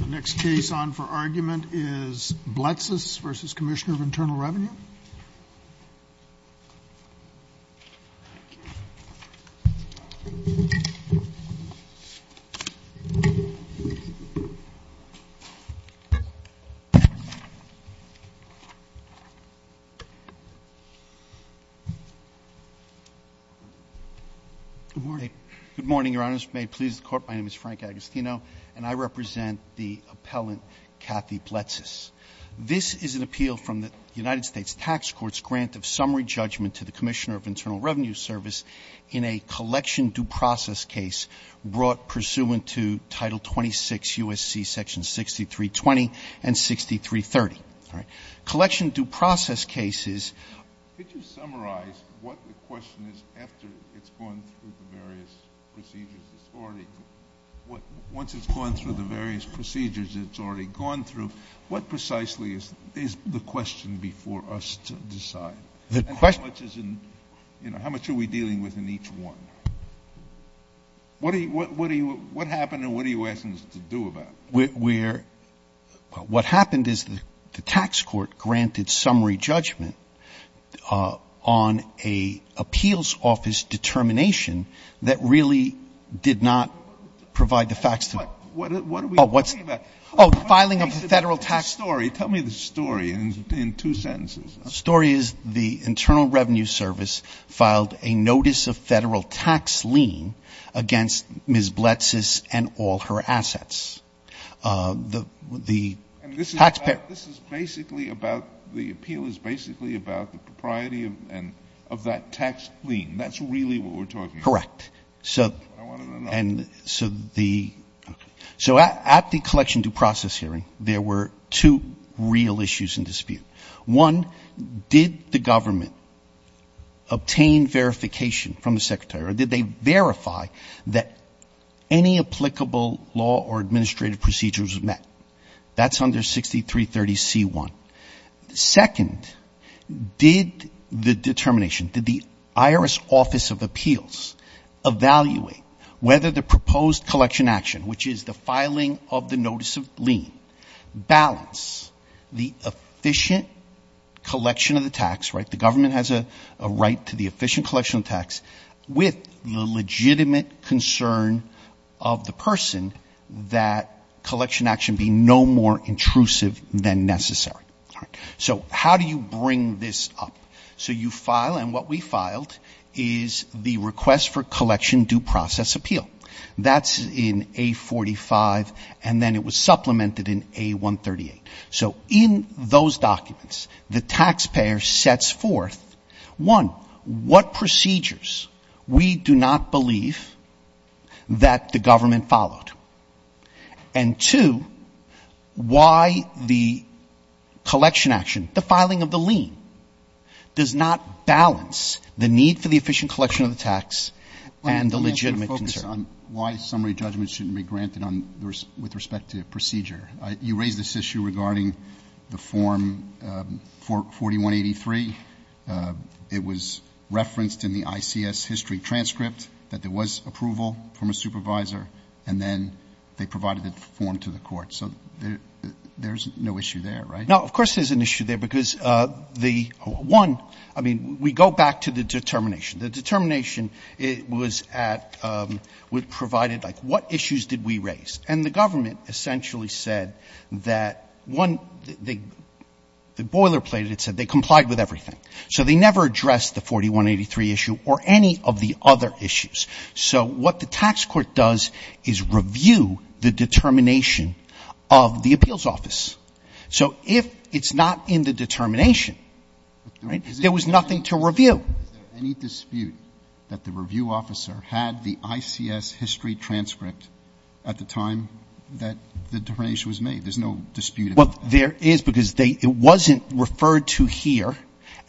The next case on for argument is Bletsas v. Commissioner of Internal Revenue. Frank Agostino, and I represent the appellant Kathy Bletsas. This is an appeal from the United States Tax Court's grant of summary judgment to the Commissioner of Internal Revenue Service in a collection due process case brought pursuant to Title 26 U.S.C. Section 6320 and 6330. Collection due process case is Can you summarize what the question is after it's gone through the various procedures it's already, once it's gone through the various is the question before us to decide? How much are we dealing with in each one? What happened and what are you asking us to do about it? What happened is the tax court granted summary judgment on an appeals office determination that really did not provide the facts. What are we talking about? Filing of a federal tax story. Tell me the story in two sentences. The story is the Internal Revenue Service filed a notice of federal tax lien against Ms. Bletsas and all her assets. The taxpayer. This is basically about the appeal is basically about the propriety of that tax lien. That's really what we're talking about. Correct. I wanted to know. So at the collection due process hearing there were two real issues in dispute. One, did the government obtain verification from the secretary or did they verify that any applicable law or administrative procedures were met? That's under 6330C1. Second, did the determination, did the IRS Office of Appeals evaluate whether the proposed collection action, which is the filing of the notice of lien, balance the efficient collection of the tax, right? The government has a right to the efficient collection of tax, with the legitimate concern of the person that collection action be no more intrusive than necessary. So how do you bring this up? So you file and what we filed is the request for collection due process appeal. That's in A45 and then it was supplemented in A138. So in those documents the taxpayer sets forth, one, what procedures we do not believe that the government followed. And two, why the collection action, the filing of the lien, does not balance the need for the efficient collection of the tax and the legitimate concern. Let me ask you to focus on why summary judgment shouldn't be granted with respect to procedure. You raised this issue regarding the form 4183. It was referenced in the ICS history transcript that there was approval from a supervisor and then they provided the form to the court. So there's no issue there, right? No, of course there's an issue there because the one, I mean, we go back to the determination. The determination was at, was provided like what issues did we raise? And the government essentially said that one, the boilerplate, it said they complied with everything. So they never addressed the 4183 issue or any of the other issues. So what the tax court does is review the determination of the appeals office. So if it's not in the determination, right, there was nothing to review. Is there any dispute that the review officer had the ICS history transcript at the time that the determination was made? There's no dispute about that. Well, there is because they, it wasn't referred to here.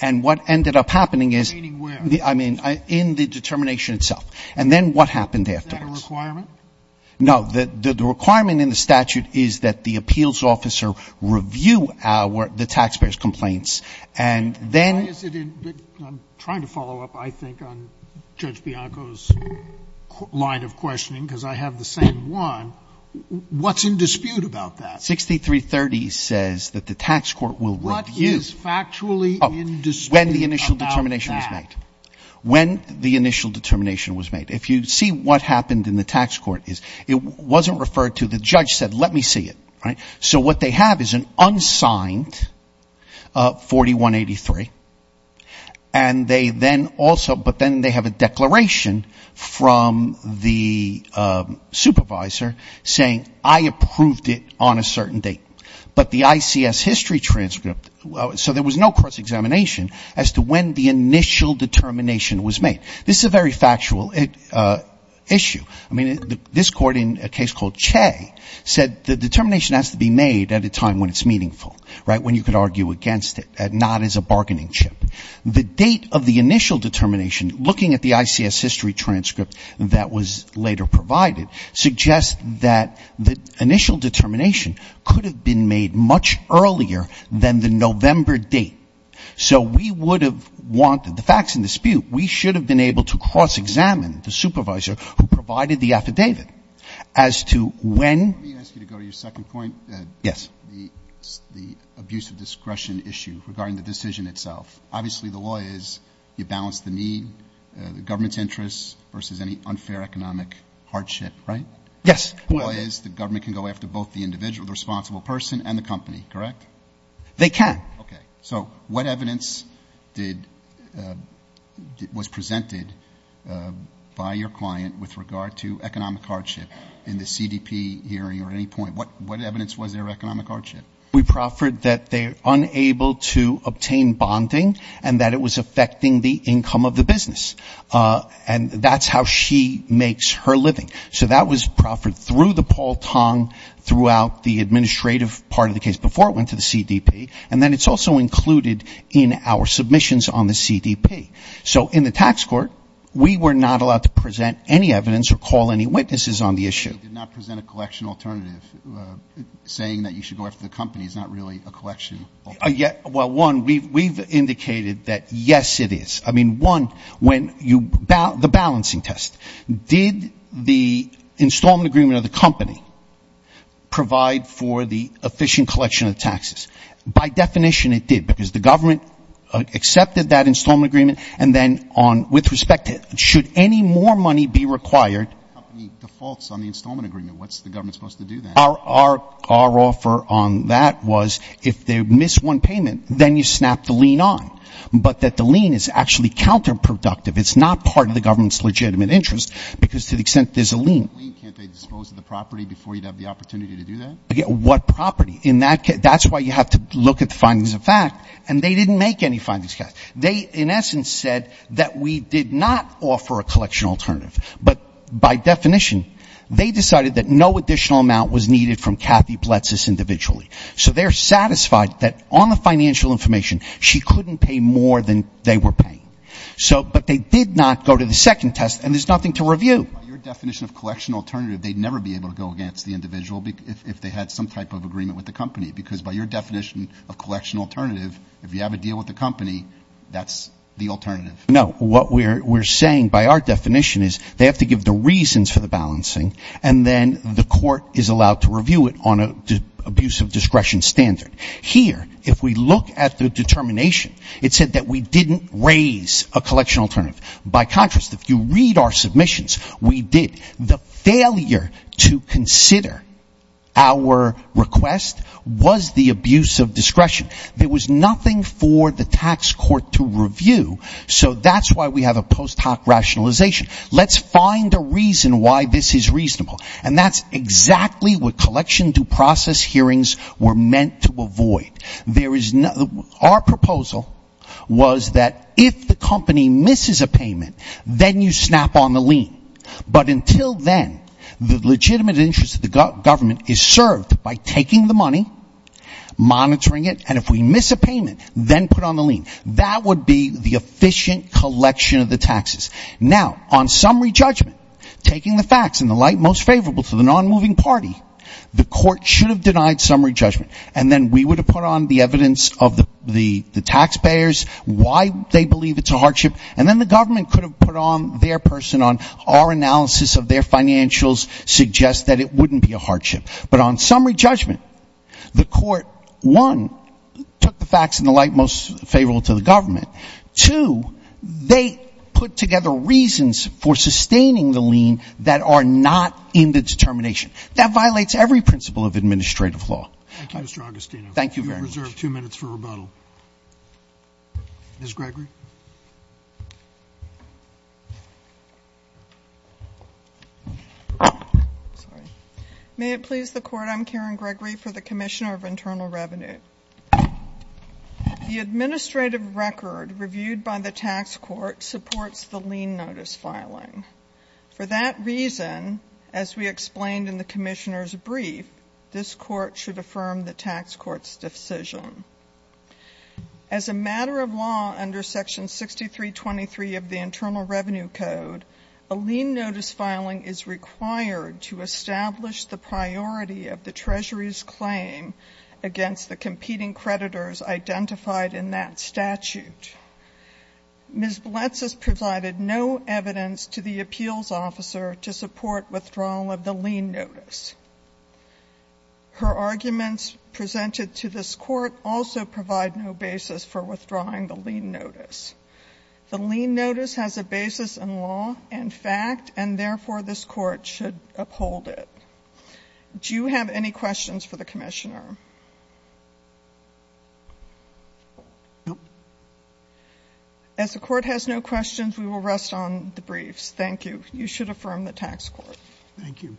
And what ended up happening is. Meaning where? I mean, in the determination itself. And then what happened afterwards? Is that a requirement? No, the requirement in the statute is that the appeals officer review our, the taxpayers' complaints. And then. Why is it in, I'm trying to follow up, I think, on Judge Bianco's line of questioning because I have the same one. What's in dispute about that? 6330 says that the tax court will review. What is factually in dispute about that? When the initial determination was made. If you see what happened in the tax court, it wasn't referred to. The judge said, let me see it. So what they have is an unsigned 4183, and they then also, but then they have a declaration from the supervisor saying, I approved it on a certain date. But the ICS history transcript, so there was no cross-examination as to when the initial determination was made. This is a very factual issue. I mean, this court in a case called Che said the determination has to be made at a time when it's meaningful, right, when you can argue against it, not as a bargaining chip. The date of the initial determination, looking at the ICS history transcript that was later provided, suggests that the initial determination could have been made much earlier than the November date. So we would have wanted the facts in dispute. We should have been able to cross-examine the supervisor who provided the affidavit as to when. Let me ask you to go to your second point. Yes. The abuse of discretion issue regarding the decision itself. Obviously, the law is you balance the need, the government's interests versus any unfair economic hardship, right? Yes. The law is the government can go after both the individual, the responsible person and the company, correct? They can. Okay. So what evidence was presented by your client with regard to economic hardship in the CDP hearing or at any point? What evidence was there of economic hardship? We proffered that they're unable to obtain bonding and that it was affecting the income of the business. And that's how she makes her living. So that was proffered through the Paul Tong throughout the administrative part of the case before it went to the CDP. And then it's also included in our submissions on the CDP. So in the tax court, we were not allowed to present any evidence or call any witnesses on the issue. They did not present a collection alternative saying that you should go after the company. It's not really a collection. Well, one, we've indicated that, yes, it is. I mean, one, the balancing test. Did the installment agreement of the company provide for the efficient collection of taxes? By definition, it did. Because the government accepted that installment agreement. And then with respect to should any more money be required. The company defaults on the installment agreement. What's the government supposed to do then? Our offer on that was if they miss one payment, then you snap the lien on. But that the lien is actually counterproductive. It's not part of the government's legitimate interest because to the extent there's a lien. Can't they dispose of the property before you'd have the opportunity to do that? What property? In that case, that's why you have to look at the findings of fact. And they didn't make any findings. They, in essence, said that we did not offer a collection alternative. But by definition, they decided that no additional amount was needed from Kathy Pletsis individually. So they're satisfied that on the financial information she couldn't pay more than they were paying. But they did not go to the second test. And there's nothing to review. By your definition of collection alternative, they'd never be able to go against the individual if they had some type of agreement with the company. Because by your definition of collection alternative, if you have a deal with the company, that's the alternative. No. What we're saying by our definition is they have to give the reasons for the balancing. And then the court is allowed to review it on an abuse of discretion standard. Here, if we look at the determination, it said that we didn't raise a collection alternative. By contrast, if you read our submissions, we did. The failure to consider our request was the abuse of discretion. There was nothing for the tax court to review. So that's why we have a post hoc rationalization. Let's find a reason why this is reasonable. And that's exactly what collection due process hearings were meant to avoid. Our proposal was that if the company misses a payment, then you snap on the lien. But until then, the legitimate interest of the government is served by taking the money, monitoring it, and if we miss a payment, then put on the lien. That would be the efficient collection of the taxes. Now, on summary judgment, taking the facts in the light most favorable to the nonmoving party, the court should have denied summary judgment. And then we would have put on the evidence of the taxpayers, why they believe it's a hardship. And then the government could have put on their person on our analysis of their financials suggest that it wouldn't be a hardship. But on summary judgment, the court, one, took the facts in the light most favorable to the government. Two, they put together reasons for sustaining the lien that are not in the determination. That violates every principle of administrative law. Thank you, Mr. Agostino. Thank you very much. You have reserved two minutes for rebuttal. Ms. Gregory. May it please the Court. I'm Karen Gregory for the Commissioner of Internal Revenue. The administrative record reviewed by the tax court supports the lien notice filing. For that reason, as we explained in the Commissioner's brief, this court should affirm the tax court's decision. As a matter of law under Section 6323 of the Internal Revenue Code, a lien notice filing is required to establish the priority of the Treasury's claim against the competing creditors identified in that statute. Ms. Bledsoe provided no evidence to the appeals officer to support withdrawal of the lien notice. Her arguments presented to this court also provide no basis for withdrawing the lien notice. The lien notice has a basis in law and fact, and therefore, this court should uphold it. Do you have any questions for the Commissioner? No. As the court has no questions, we will rest on the briefs. Thank you. You should affirm the tax court. Thank you.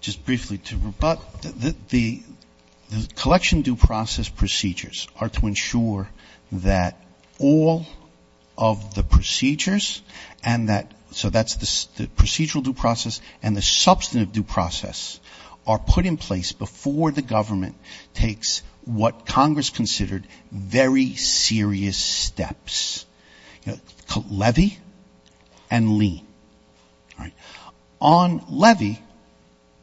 Just briefly, to rebut, the collection due process procedures are to ensure that all of the procedures and that so that's the procedural due process and the substantive due process are put in place before the government takes what is called levy and lien. All right. On levy.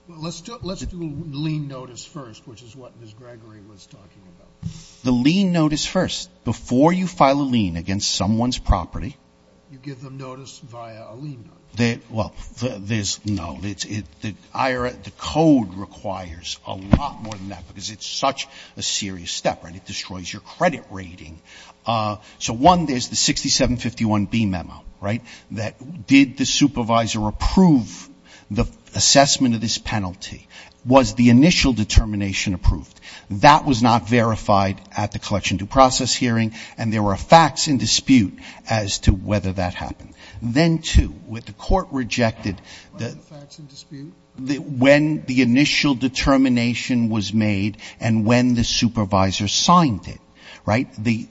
Let's do a lien notice first, which is what Ms. Gregory was talking about. The lien notice first. Before you file a lien against someone's property. You give them notice via a lien notice. Well, there's no. The IRA, the code requires a lot more than that because it's such a serious step and it destroys your credit rating. So, one, there's the 6751B memo, right, that did the supervisor approve the assessment of this penalty? Was the initial determination approved? That was not verified at the collection due process hearing and there were facts in dispute as to whether that happened. Then, two, what the court rejected, when the initial determination was made and when the supervisor signed it, right? The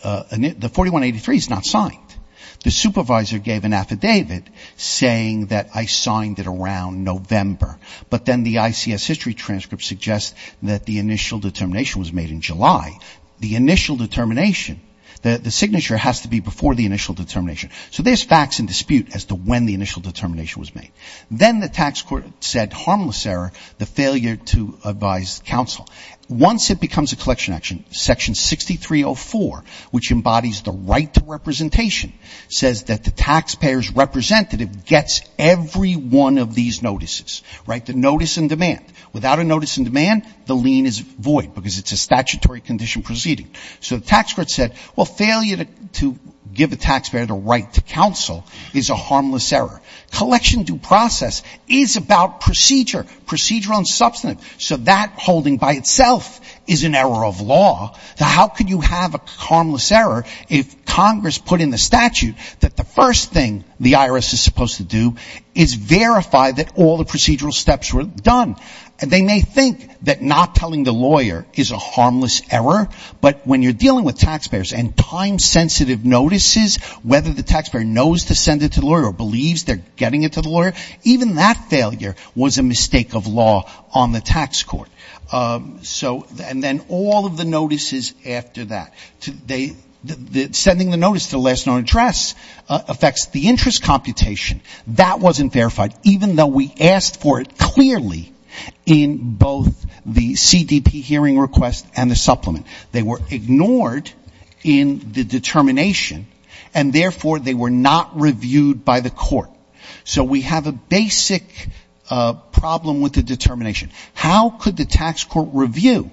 4183 is not signed. The supervisor gave an affidavit saying that I signed it around November, but then the ICS history transcript suggests that the initial determination was made in July. The initial determination, the signature has to be before the initial determination. So, there's facts in dispute as to when the initial determination was made. Then the tax court said harmless error, the failure to advise counsel. Once it becomes a collection action, Section 6304, which embodies the right to representation, says that the taxpayer's representative gets every one of these notices, right, the notice in demand. Without a notice in demand, the lien is void because it's a statutory condition proceeding. So, the tax court said, well, failure to give a taxpayer the right to counsel is a harmless error. Collection due process is about procedure, procedural and substantive. So, that holding by itself is an error of law. Now, how could you have a harmless error if Congress put in the statute that the first thing the IRS is supposed to do is verify that all the procedural steps were done? And they may think that not telling the lawyer is a harmless error, but when you're dealing with taxpayers and time sensitive notices, whether the taxpayer knows to send it to the lawyer or believes they're getting it to the lawyer, even that failure was a mistake of law on the tax court. So, and then all of the notices after that. They, sending the notice to the last known address affects the interest computation. That wasn't verified, even though we asked for it clearly in both the CDP hearing request and the supplement. They were ignored in the determination, and therefore, they were not reviewed by the court. So, we have a basic problem with the determination. How could the tax court review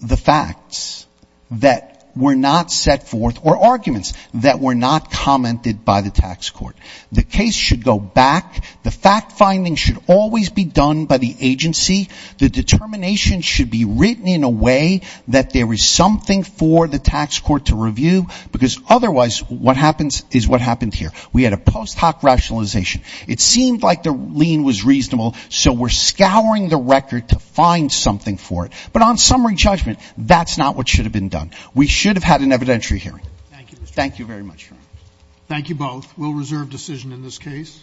the facts that were not set forth or arguments that were not commented by the tax court? The case should go back. The fact finding should always be done by the agency. The determination should be written in a way that there is something for the tax court to review, because otherwise, what happens is what happened here. We had a post hoc rationalization. It seemed like the lien was reasonable, so we're scouring the record to find something for it. But on summary judgment, that's not what should have been done. We should have had an evidentiary hearing. Thank you very much. Thank you both. We'll reserve decision in this case.